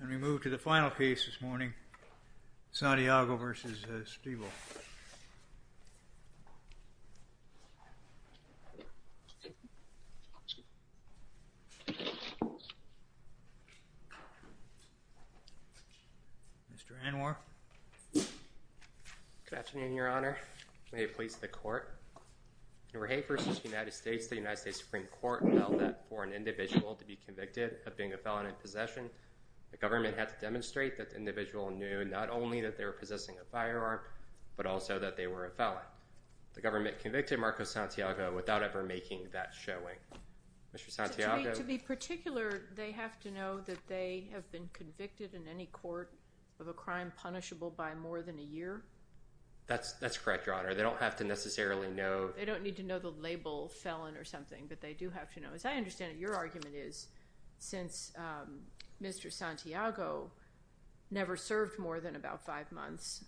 And we move to the final case this morning, Santiago v. Streeval. Mr. Anwar. Good afternoon, Your Honor. May it please the Court. In Rahe v. United States, the United States Supreme Court held that for an individual to be convicted of being a felon in possession, the government had to demonstrate that the individual knew not only that they were possessing a firearm, but also that they were a felon. The government convicted Marcos Santiago without ever making that showing. Mr. Santiago. To be particular, they have to know that they have been convicted in any court of a crime punishable by more than a year? That's correct, Your Honor. They don't have to necessarily know. They don't need to know the label felon or something, but they do have to know. As I understand it, your argument is since Mr. Santiago never served more than about five months,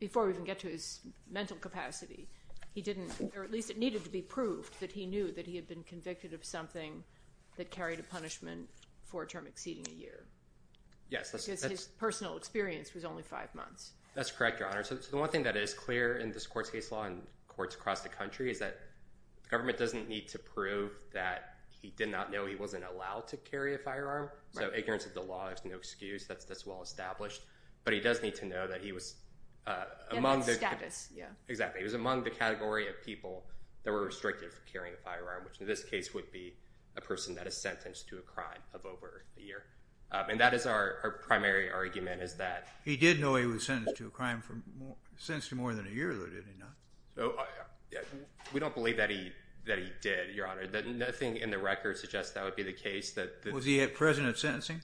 before we even get to his mental capacity, he didn't, or at least it needed to be proved, that he knew that he had been convicted of something that carried a punishment for a term exceeding a year. Yes. Because his personal experience was only five months. That's correct, Your Honor. So the one thing that is clear in this court's case law and courts across the country is that the government doesn't need to prove that he did not know he wasn't allowed to carry a firearm. So ignorance of the law is no excuse. That's well established. But he does need to know that he was among the category of people that were restricted from carrying a firearm, which in this case would be a person that is sentenced to a crime of over a year. And that is our primary argument is that— Sentenced to more than a year, though, did he not? We don't believe that he did, Your Honor. Nothing in the record suggests that would be the case. Was he present at sentencing?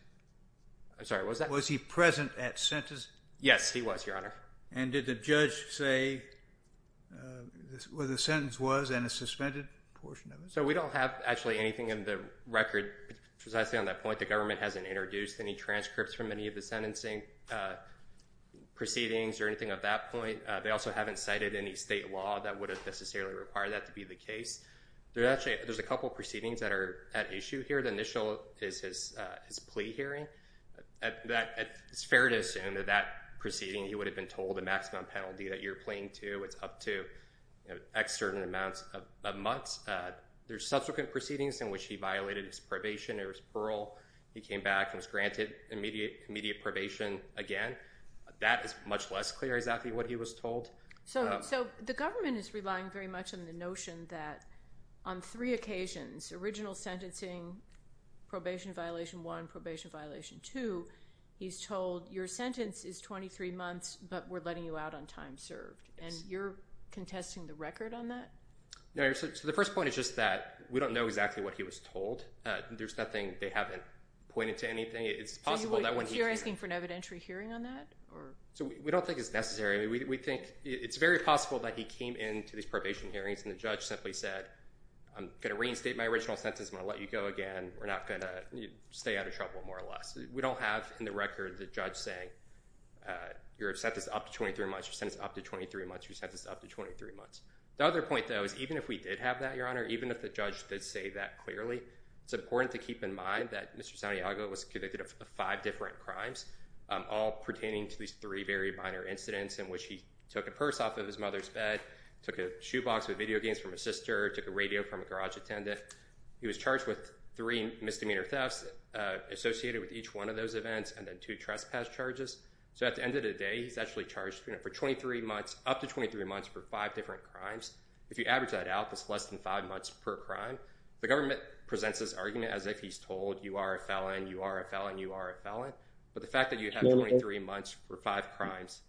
I'm sorry, what was that? Was he present at sentencing? Yes, he was, Your Honor. And did the judge say where the sentence was and a suspended portion of it? So we don't have actually anything in the record precisely on that point. The government hasn't introduced any transcripts from any of the sentencing proceedings or anything of that point. They also haven't cited any state law that would have necessarily required that to be the case. There's a couple proceedings that are at issue here. The initial is his plea hearing. It's fair to assume that that proceeding, he would have been told a maximum penalty that you're pleading to. It's up to X certain amounts of months. There's subsequent proceedings in which he violated his probation or his parole. He came back and was granted immediate probation again. That is much less clear exactly what he was told. So the government is relying very much on the notion that on three occasions, original sentencing, probation violation one, probation violation two, he's told your sentence is 23 months, but we're letting you out on time served. And you're contesting the record on that? No. So the first point is just that we don't know exactly what he was told. There's nothing they haven't pointed to anything. It's possible that when he came. So you're asking for an evidentiary hearing on that? So we don't think it's necessary. We think it's very possible that he came into these probation hearings and the judge simply said, I'm going to reinstate my original sentence and I'm going to let you go again. We're not going to stay out of trouble more or less. We don't have in the record the judge saying your sentence is up to 23 months, your sentence is up to 23 months, your sentence is up to 23 months. The other point, though, is even if we did have that, Your Honor, even if the judge did say that clearly, it's important to keep in mind that Mr. Santiago was convicted of five different crimes, all pertaining to these three very minor incidents in which he took a purse off of his mother's bed, took a shoebox with video games from his sister, took a radio from a garage attendant. He was charged with three misdemeanor thefts associated with each one of those events and then two trespass charges. So at the end of the day, he's actually charged for 23 months, up to 23 months for five different crimes. If you average that out, that's less than five months per crime. The government presents this argument as if he's told you are a felon, you are a felon, you are a felon. But the fact that you have 23 months for five crimes,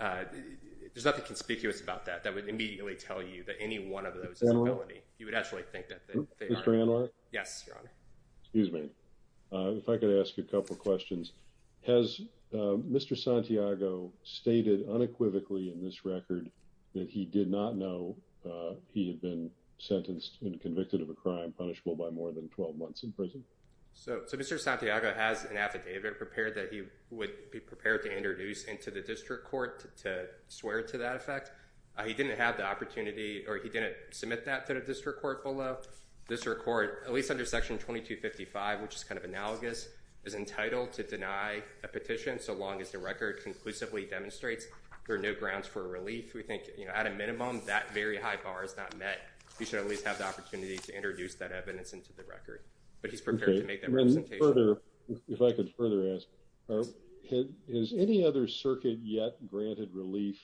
there's nothing conspicuous about that, that would immediately tell you that any one of those is a felony. You would actually think that they are. Mr. Anwar? Yes, Your Honor. Excuse me. If I could ask a couple of questions. Has Mr. Santiago stated unequivocally in this record that he did not know he had been sentenced and convicted of a crime punishable by more than 12 months in prison? So Mr. Santiago has an affidavit prepared that he would be prepared to introduce into the district court to swear to that effect. He didn't have the opportunity, or he didn't submit that to the district court full of, this record, at least under Section 2255, which is kind of analogous, is entitled to deny a petition so long as the record conclusively demonstrates there are no grounds for relief. We think, you know, at a minimum, that very high bar is not met. He should at least have the opportunity to introduce that evidence into the record. But he's prepared to make that representation. If I could further ask, has any other circuit yet granted relief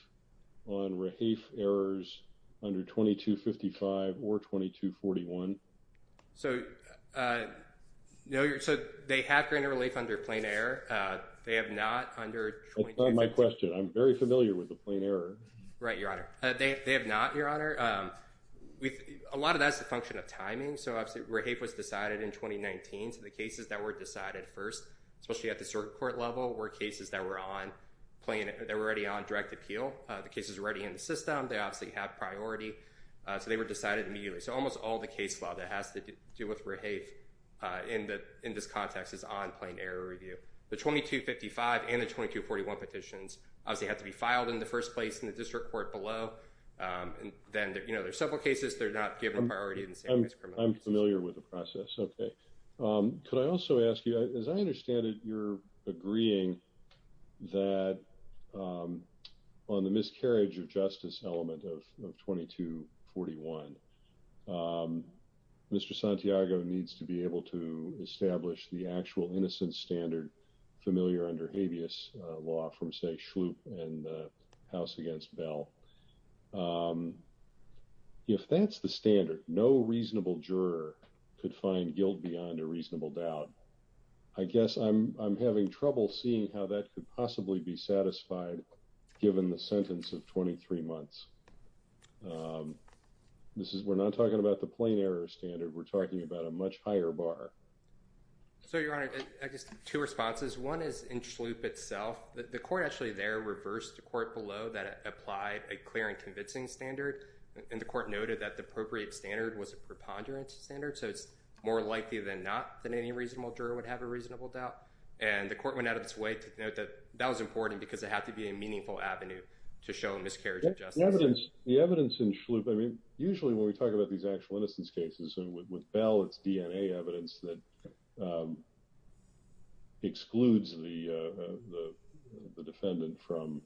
on Rahafe errors under 2255 or 2241? So they have granted relief under plain error. They have not under 2255. That's not my question. I'm very familiar with the plain error. Right, Your Honor. They have not, Your Honor. A lot of that is a function of timing. So Rahafe was decided in 2019, so the cases that were decided first, especially at the circuit court level, were cases that were already on direct appeal. The cases were already in the system. They obviously had priority. So they were decided immediately. So almost all the case law that has to do with Rahafe in this context is on plain error review. The 2255 and the 2241 petitions obviously had to be filed in the first place in the district court below. Then, you know, there's several cases that are not given priority in the same way as criminal cases. I'm familiar with the process. Okay. Could I also ask you, as I understand it, you're agreeing that on the miscarriage of justice element of 2241, Mr. Santiago needs to be able to establish the actual innocent standard familiar under habeas law from, say, Schlup and House against Bell. If that's the standard, no reasonable juror could find guilt beyond a reasonable doubt. I guess I'm having trouble seeing how that could possibly be satisfied given the sentence of 23 months. We're not talking about the plain error standard. We're talking about a much higher bar. So, Your Honor, I guess two responses. One is in Schlup itself. The court actually there reversed the court below that applied a clear and convincing standard. And the court noted that the appropriate standard was a preponderance standard. So it's more likely than not than any reasonable juror would have a reasonable doubt. And the court went out of its way to note that that was important because it had to be a meaningful avenue to show miscarriage of justice. The evidence in Schlup, I mean, usually when we talk about these actual innocence cases with Bell, it's DNA evidence that excludes the defendant from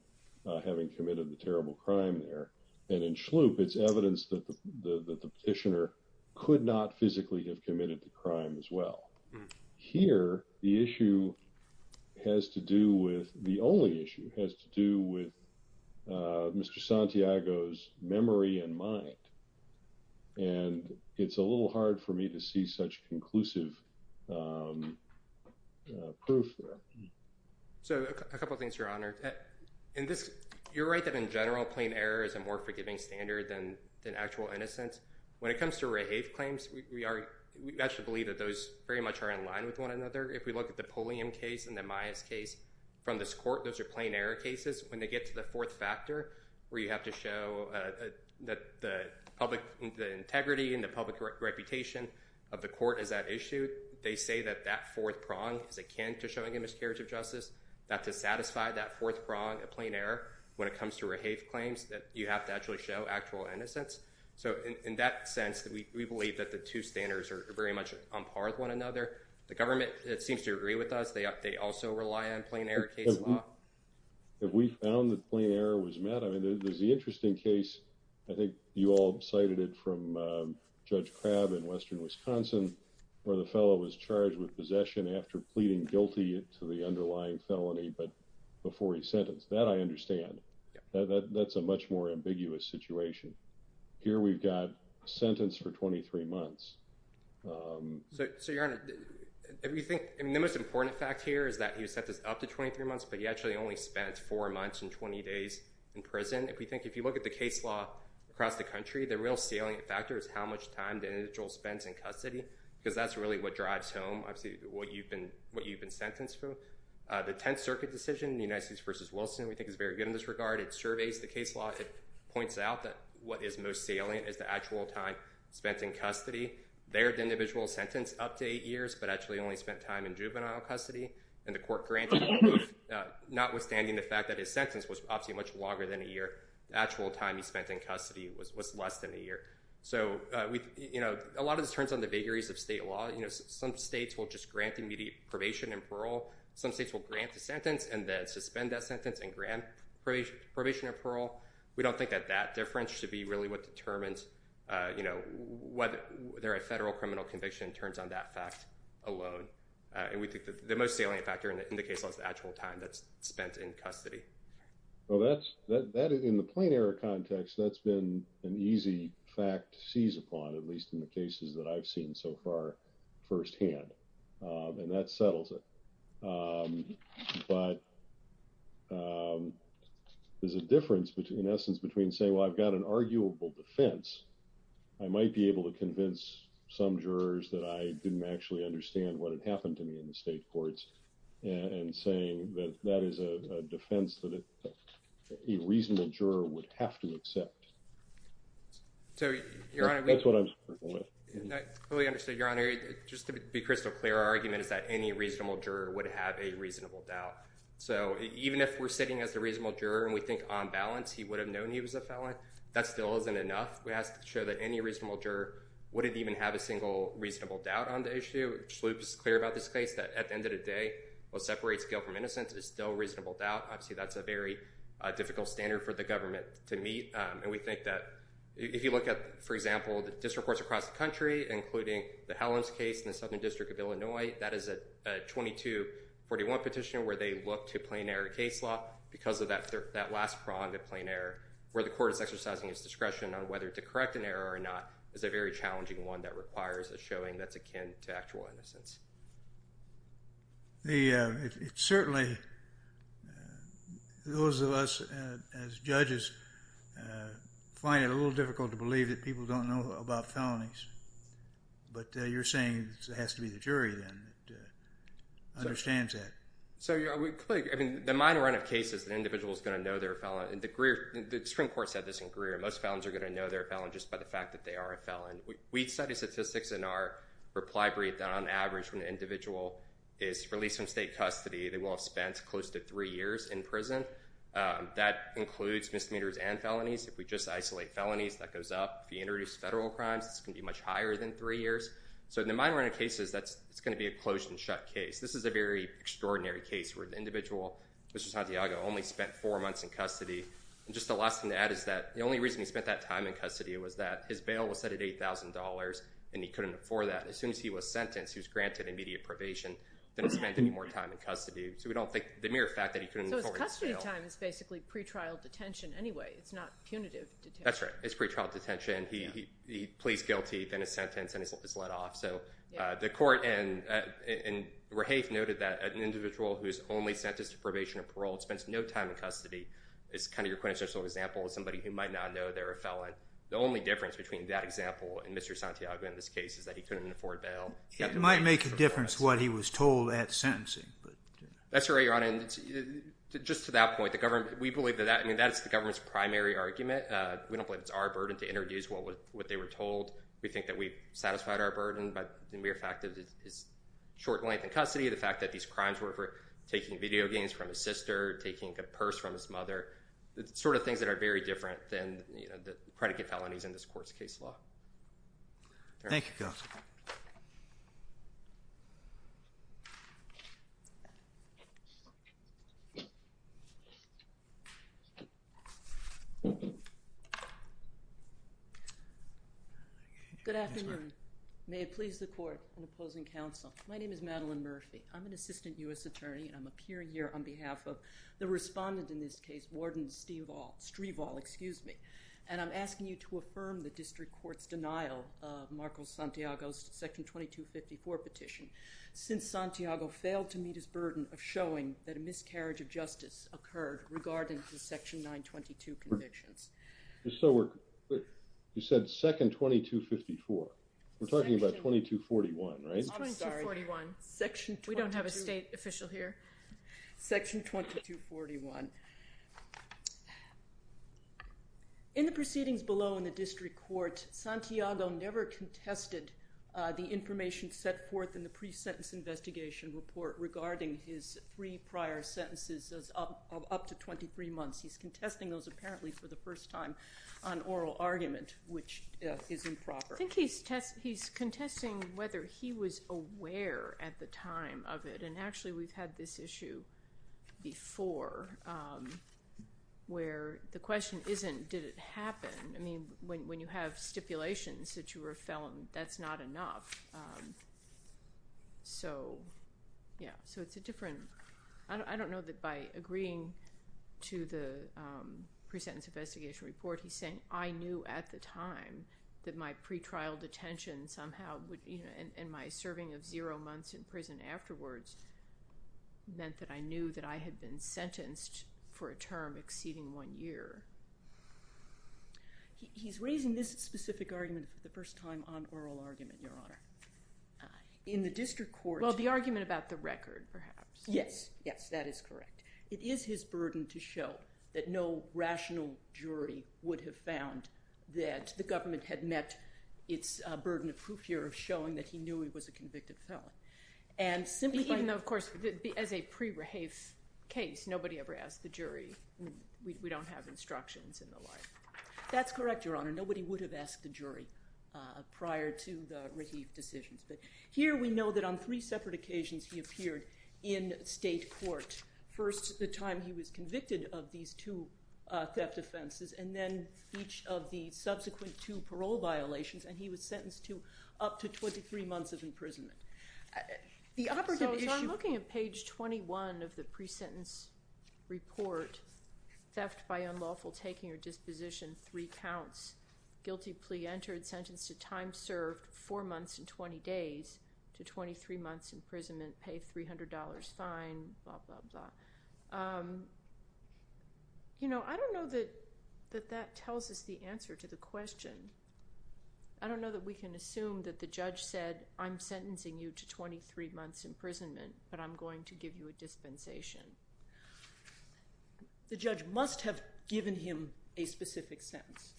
having committed the terrible crime there. And in Schlup, it's evidence that the petitioner could not physically have committed the crime as well. Here, the issue has to do with, the only issue has to do with Mr. Santiago's memory and mind. And it's a little hard for me to see such conclusive proof there. So a couple of things, Your Honor. In this, you're right that in general, plain error is a more forgiving standard than actual innocence. When it comes to rehave claims, we actually believe that those very much are in line with one another. If we look at the Pulliam case and the Myers case from this court, those are plain error cases. When they get to the fourth factor where you have to show that the integrity and the public reputation of the court is at issue, they say that that fourth prong is akin to showing a miscarriage of justice. That to satisfy that fourth prong of plain error when it comes to rehave claims, you have to actually show actual innocence. So in that sense, we believe that the two standards are very much on par with one another. The government, it seems to agree with us. They also rely on plain error case law. If we found that plain error was met, I mean, there's the interesting case. I think you all cited it from Judge Crabb in western Wisconsin, where the fellow was charged with possession after pleading guilty to the underlying felony, but before he sentenced. That I understand. That's a much more ambiguous situation. Here we've got sentence for 23 months. So, Your Honor, the most important fact here is that he was sentenced up to 23 months, but he actually only spent four months and 20 days in prison. If you look at the case law across the country, the real salient factor is how much time the individual spends in custody, because that's really what drives home what you've been sentenced for. So the Tenth Circuit decision, the United States v. Wilson, we think is very good in this regard. It surveys the case law. It points out that what is most salient is the actual time spent in custody. There, the individual is sentenced up to eight years, but actually only spent time in juvenile custody. And the court granted, notwithstanding the fact that his sentence was obviously much longer than a year, the actual time he spent in custody was less than a year. So, you know, a lot of this turns on the vagaries of state law. You know, some states will just grant immediate probation and parole. Some states will grant the sentence and then suspend that sentence and grant probation and parole. We don't think that that difference should be really what determines, you know, whether a federal criminal conviction turns on that fact alone. And we think that the most salient factor in the case law is the actual time that's spent in custody. Well, that's, in the plain error context, that's been an easy fact to seize upon, at least in the cases that I've seen so far firsthand. And that settles it. But there's a difference, in essence, between saying, well, I've got an arguable defense. I might be able to convince some jurors that I didn't actually understand what had happened to me in the state courts and saying that that is a defense that a reasonable juror would have to accept. That's what I'm struggling with. I fully understand, Your Honor. Just to be crystal clear, our argument is that any reasonable juror would have a reasonable doubt. So even if we're sitting as the reasonable juror and we think on balance he would have known he was a felon, that still isn't enough. We have to show that any reasonable juror wouldn't even have a single reasonable doubt on the issue. Shloop is clear about this case, that at the end of the day, what separates guilt from innocence is still reasonable doubt. Obviously, that's a very difficult standard for the government to meet. And we think that if you look at, for example, district courts across the country, including the Hellams case in the Southern District of Illinois, that is a 2241 petition where they look to plain error case law because of that last prong of plain error, where the court is exercising its discretion on whether to correct an error or not, is a very challenging one that requires a showing that's akin to actual innocence. Certainly, those of us as judges find it a little difficult to believe that people don't know about felonies. But you're saying it has to be the jury then that understands that. The minor run of cases, the individual is going to know they're a felon. The Supreme Court said this in Greer. Most felons are going to know they're a felon just by the fact that they are a felon. We study statistics in our reply brief that on average when an individual is released from state custody, they will have spent close to three years in prison. That includes misdemeanors and felonies. If we just isolate felonies, that goes up. If you introduce federal crimes, it's going to be much higher than three years. So in the minor run of cases, that's going to be a closed and shut case. This is a very extraordinary case where the individual, Mr. Santiago, only spent four months in custody. And just the last thing to add is that the only reason he spent that time in custody was that his bail was set at $8,000, and he couldn't afford that. As soon as he was sentenced, he was granted immediate probation, didn't spend any more time in custody. So we don't think the mere fact that he couldn't afford bail. So his custody time is basically pretrial detention anyway. It's not punitive detention. That's right. It's pretrial detention. He pleads guilty, then is sentenced, and is let off. So the court in Rahafe noted that an individual who is only sentenced to probation or parole, spends no time in custody, is kind of your quintessential example of somebody who might not know they're a felon. The only difference between that example and Mr. Santiago in this case is that he couldn't afford bail. It might make a difference what he was told at sentencing. That's right, Your Honor. Just to that point, we believe that that's the government's primary argument. We don't believe it's our burden to introduce what they were told. We think that we've satisfied our burden by the mere fact that it's short length in custody, the fact that these crimes were for taking video games from his sister, taking a purse from his mother, the sort of things that are very different than the predicate felonies in this court's case law. Thank you. Good afternoon. May it please the court and opposing counsel. My name is Madeline Murphy. I'm an assistant U.S. attorney, and I'm appearing here on behalf of the respondent in this case, Warden Strieval, and I'm asking you to affirm the district court's denial of Marcos Santiago's Section 2254 petition, since Santiago failed to meet his burden of showing that a miscarriage of justice occurred regarding the Section 922 convictions. You said second 2254. We're talking about 2241, right? I'm sorry. 2241. We don't have a state official here. Section 2241. In the proceedings below in the district court, Santiago never contested the information set forth in the pre-sentence investigation report regarding his three prior sentences of up to 23 months. He's contesting those apparently for the first time on oral argument, which is improper. I think he's contesting whether he was aware at the time of it, and actually we've had this issue before where the question isn't did it happen. I mean, when you have stipulations that you were a felon, that's not enough. So, yeah, so it's a different, I don't know that by agreeing to the pre-sentence investigation report, he's saying I knew at the time that my pre-trial detention somehow would, and my serving of zero months in prison afterwards meant that I knew that I had been sentenced for a term exceeding one year. He's raising this specific argument for the first time on oral argument, Your Honor. In the district court. Well, the argument about the record, perhaps. Yes, yes, that is correct. It is his burden to show that no rational jury would have found that the government had met its burden of proof here of showing that he knew he was a convicted felon. Even though, of course, as a pre-Raheif case, nobody ever asked the jury. We don't have instructions and the like. That's correct, Your Honor. Nobody would have asked the jury prior to the Raheif decisions. But here we know that on three separate occasions he appeared in state court. First, the time he was convicted of these two theft offenses, and then each of the subsequent two parole violations, and he was sentenced to up to 23 months of imprisonment. So I'm looking at page 21 of the pre-sentence report. Theft by unlawful taking or disposition, three counts. Guilty plea entered, sentenced to time served, four months and 20 days, to 23 months imprisonment, You know, I don't know that that tells us the answer to the question. I don't know that we can assume that the judge said, I'm sentencing you to 23 months imprisonment, but I'm going to give you a dispensation. The judge must have given him a specific sentence,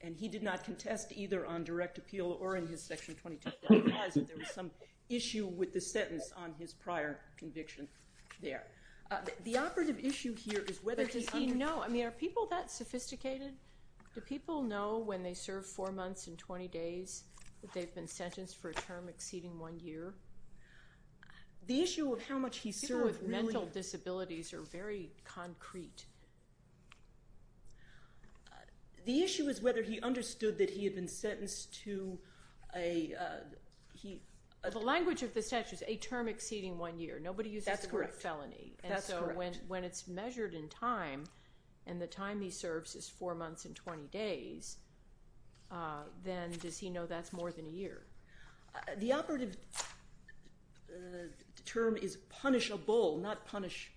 and he did not contest either on direct appeal or in his section 22, but I realize that there was some issue with the sentence on his prior conviction there. The operative issue here is whether he- But does he know? I mean, are people that sophisticated? Do people know when they serve four months and 20 days that they've been sentenced for a term exceeding one year? The issue of how much he served really- People with mental disabilities are very concrete. The issue is whether he understood that he had been sentenced to a- The language of the statute is a term exceeding one year. Nobody uses the word felony. That's correct. And so when it's measured in time, and the time he serves is four months and 20 days, then does he know that's more than a year? The operative term is punishable, not punish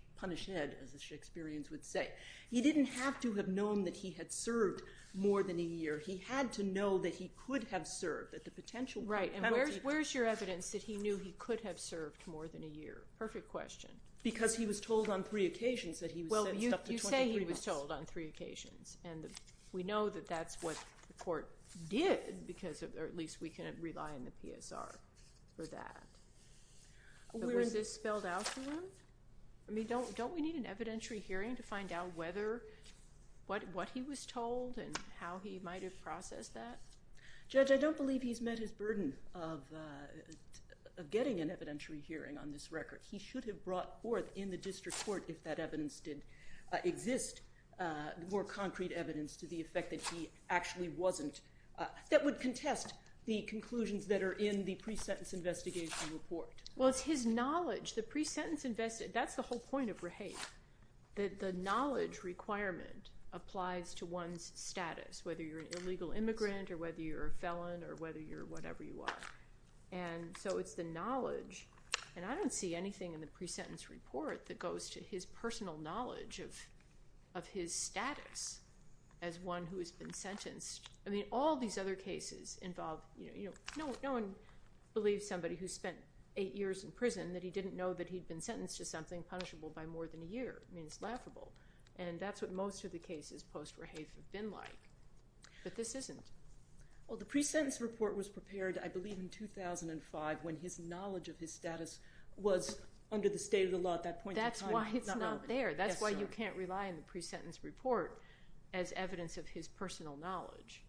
head, as the Shakespeareans would say. He didn't have to have known that he had served more than a year. He had to know that he could have served, that the potential penalty- Right, and where's your evidence that he knew he could have served more than a year? Perfect question. Because he was told on three occasions that he was sentenced up to 23 months. Well, you say he was told on three occasions, and we know that that's what the court did because- or at least we can rely on the PSR for that. Was this spelled out for him? I mean, don't we need an evidentiary hearing to find out whether- what he was told and how he might have processed that? Judge, I don't believe he's met his burden of getting an evidentiary hearing on this record. He should have brought forth in the district court, if that evidence did exist, more concrete evidence to the effect that he actually wasn't- that would contest the conclusions that are in the pre-sentence investigation report. Well, it's his knowledge. The pre-sentence investigation, that's the whole point of rehape, that the knowledge requirement applies to one's status, whether you're an illegal immigrant or whether you're a felon or whether you're whatever you are. And so it's the knowledge, and I don't see anything in the pre-sentence report that goes to his personal knowledge of his status as one who has been sentenced. I mean, all these other cases involve- no one believes somebody who spent eight years in prison that he didn't know that he'd been sentenced to something punishable by more than a year. I mean, it's laughable. And that's what most of the cases post-rehape have been like. But this isn't. Well, the pre-sentence report was prepared, I believe, in 2005 when his knowledge of his status was under the state of the law at that point in time. That's why it's not there. That's why you can't rely on the pre-sentence report as evidence of his personal knowledge.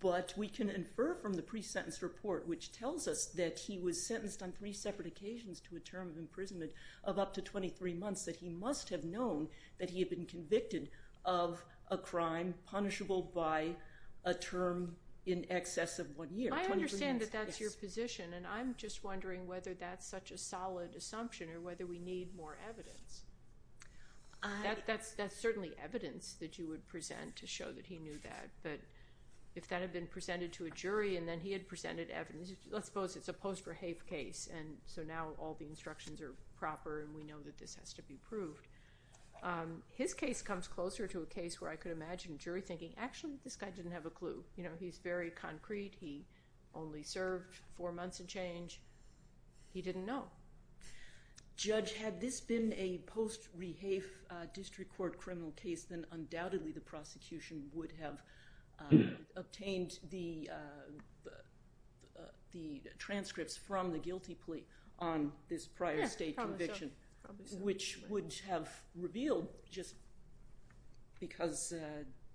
But we can infer from the pre-sentence report, which tells us that he was sentenced on three separate occasions to a term of imprisonment of up to 23 months that he must have known that he had been convicted of a crime punishable by a term in excess of one year. I understand that that's your position, and I'm just wondering whether that's such a solid assumption or whether we need more evidence. That's certainly evidence that you would present to show that he knew that. But if that had been presented to a jury and then he had presented evidence- let's suppose it's a post-rehape case, and so now all the instructions are proper and we know that this has to be proved. His case comes closer to a case where I could imagine a jury thinking, actually, this guy didn't have a clue. He's very concrete. He only served four months and change. He didn't know. Judge, had this been a post-rehape district court criminal case, then undoubtedly the prosecution would have obtained the transcripts from the guilty plea on this prior state conviction, which would have revealed, just because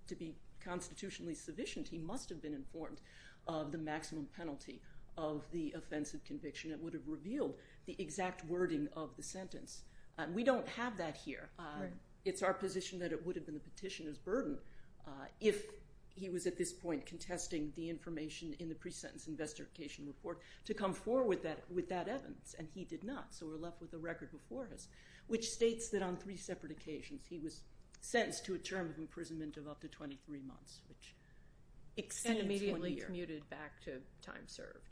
to be constitutionally sufficient, he must have been informed of the maximum penalty of the offensive conviction. It would have revealed the exact wording of the sentence. We don't have that here. It's our position that it would have been the petitioner's burden if he was at this point contesting the information in the pre-sentence investigation report to come forward with that evidence, and he did not, so we're left with the record before us, which states that on three separate occasions he was sentenced to a term of imprisonment of up to 23 months, which extends 20 years. And immediately commuted back to time served.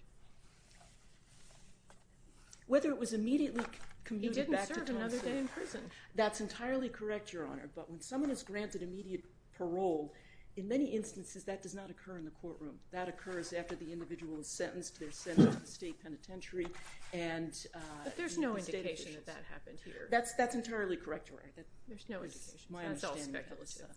Whether it was immediately commuted back to time served- He didn't serve another day in prison. That's entirely correct, Your Honor, but when someone is granted immediate parole, in many instances that does not occur in the courtroom. That occurs after the individual is sentenced. They're sent to the state penitentiary and- But there's no indication that that happened here. That's entirely correct, Your Honor. There's no indication. That's all speculative.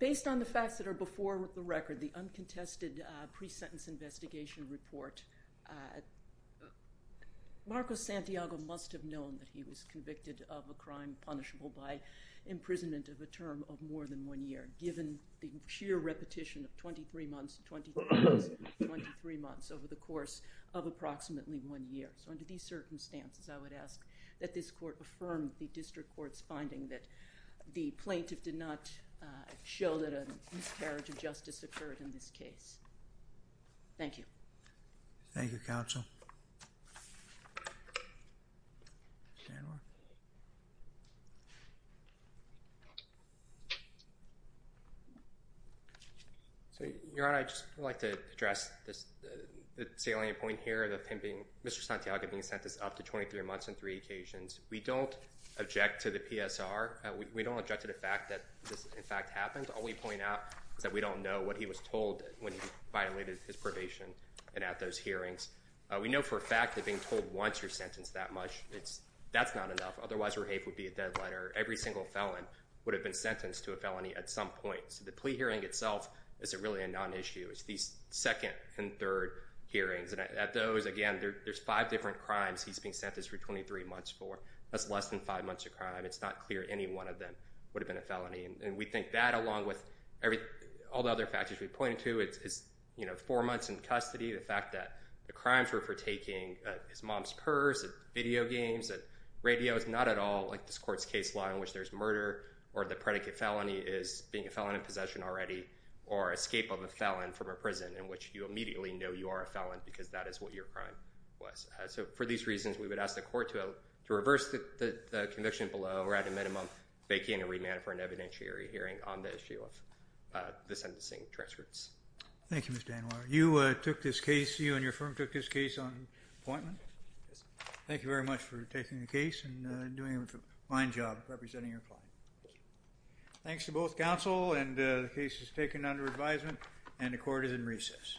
Based on the facts that are before the record, the uncontested pre-sentence investigation report, Marcos Santiago must have known that he was convicted of a crime punishable by imprisonment of a term of more than one year, given the sheer repetition of 23 months, 23 months, 23 months over the course of approximately one year. So under these circumstances, I would ask that this court affirm the district court's finding that the plaintiff did not show that a miscarriage of justice occurred in this case. Thank you. Thank you, counsel. General? So, Your Honor, I'd just like to address the salient point here of Mr. Santiago being sentenced up to 23 months on three occasions. We don't object to the PSR. We don't object to the fact that this, in fact, happened. All we point out is that we don't know what he was told when he violated his probation and at those hearings. We know for a fact that being told once you're sentenced that much, that's not enough. Otherwise, your case would be a deadliner. Every single felon would have been sentenced to a felony at some point. So the plea hearing itself isn't really a non-issue. It's these second and third hearings. And at those, again, there's five different crimes he's being sentenced for 23 months for. That's less than five months of crime. It's not clear any one of them would have been a felony. And we think that, along with all the other factors we pointed to, is four months in custody, the fact that the crimes were for taking his mom's purse, video games, radios, not at all like this court's case law in which there's murder or the predicate felony is being a felon in possession already or escape of a felon from a prison in which you immediately know you are a felon because that is what your crime was. So for these reasons, we would ask the court to reverse the conviction below or at a minimum vacate and remand for an evidentiary hearing on the issue of the sentencing transcripts. Thank you, Mr. Anwar. You took this case. You and your firm took this case on appointment. Yes. Thank you very much for taking the case and doing a fine job representing your client. Thank you. Thanks to both counsel. And the case is taken under advisement, and the court is in recess.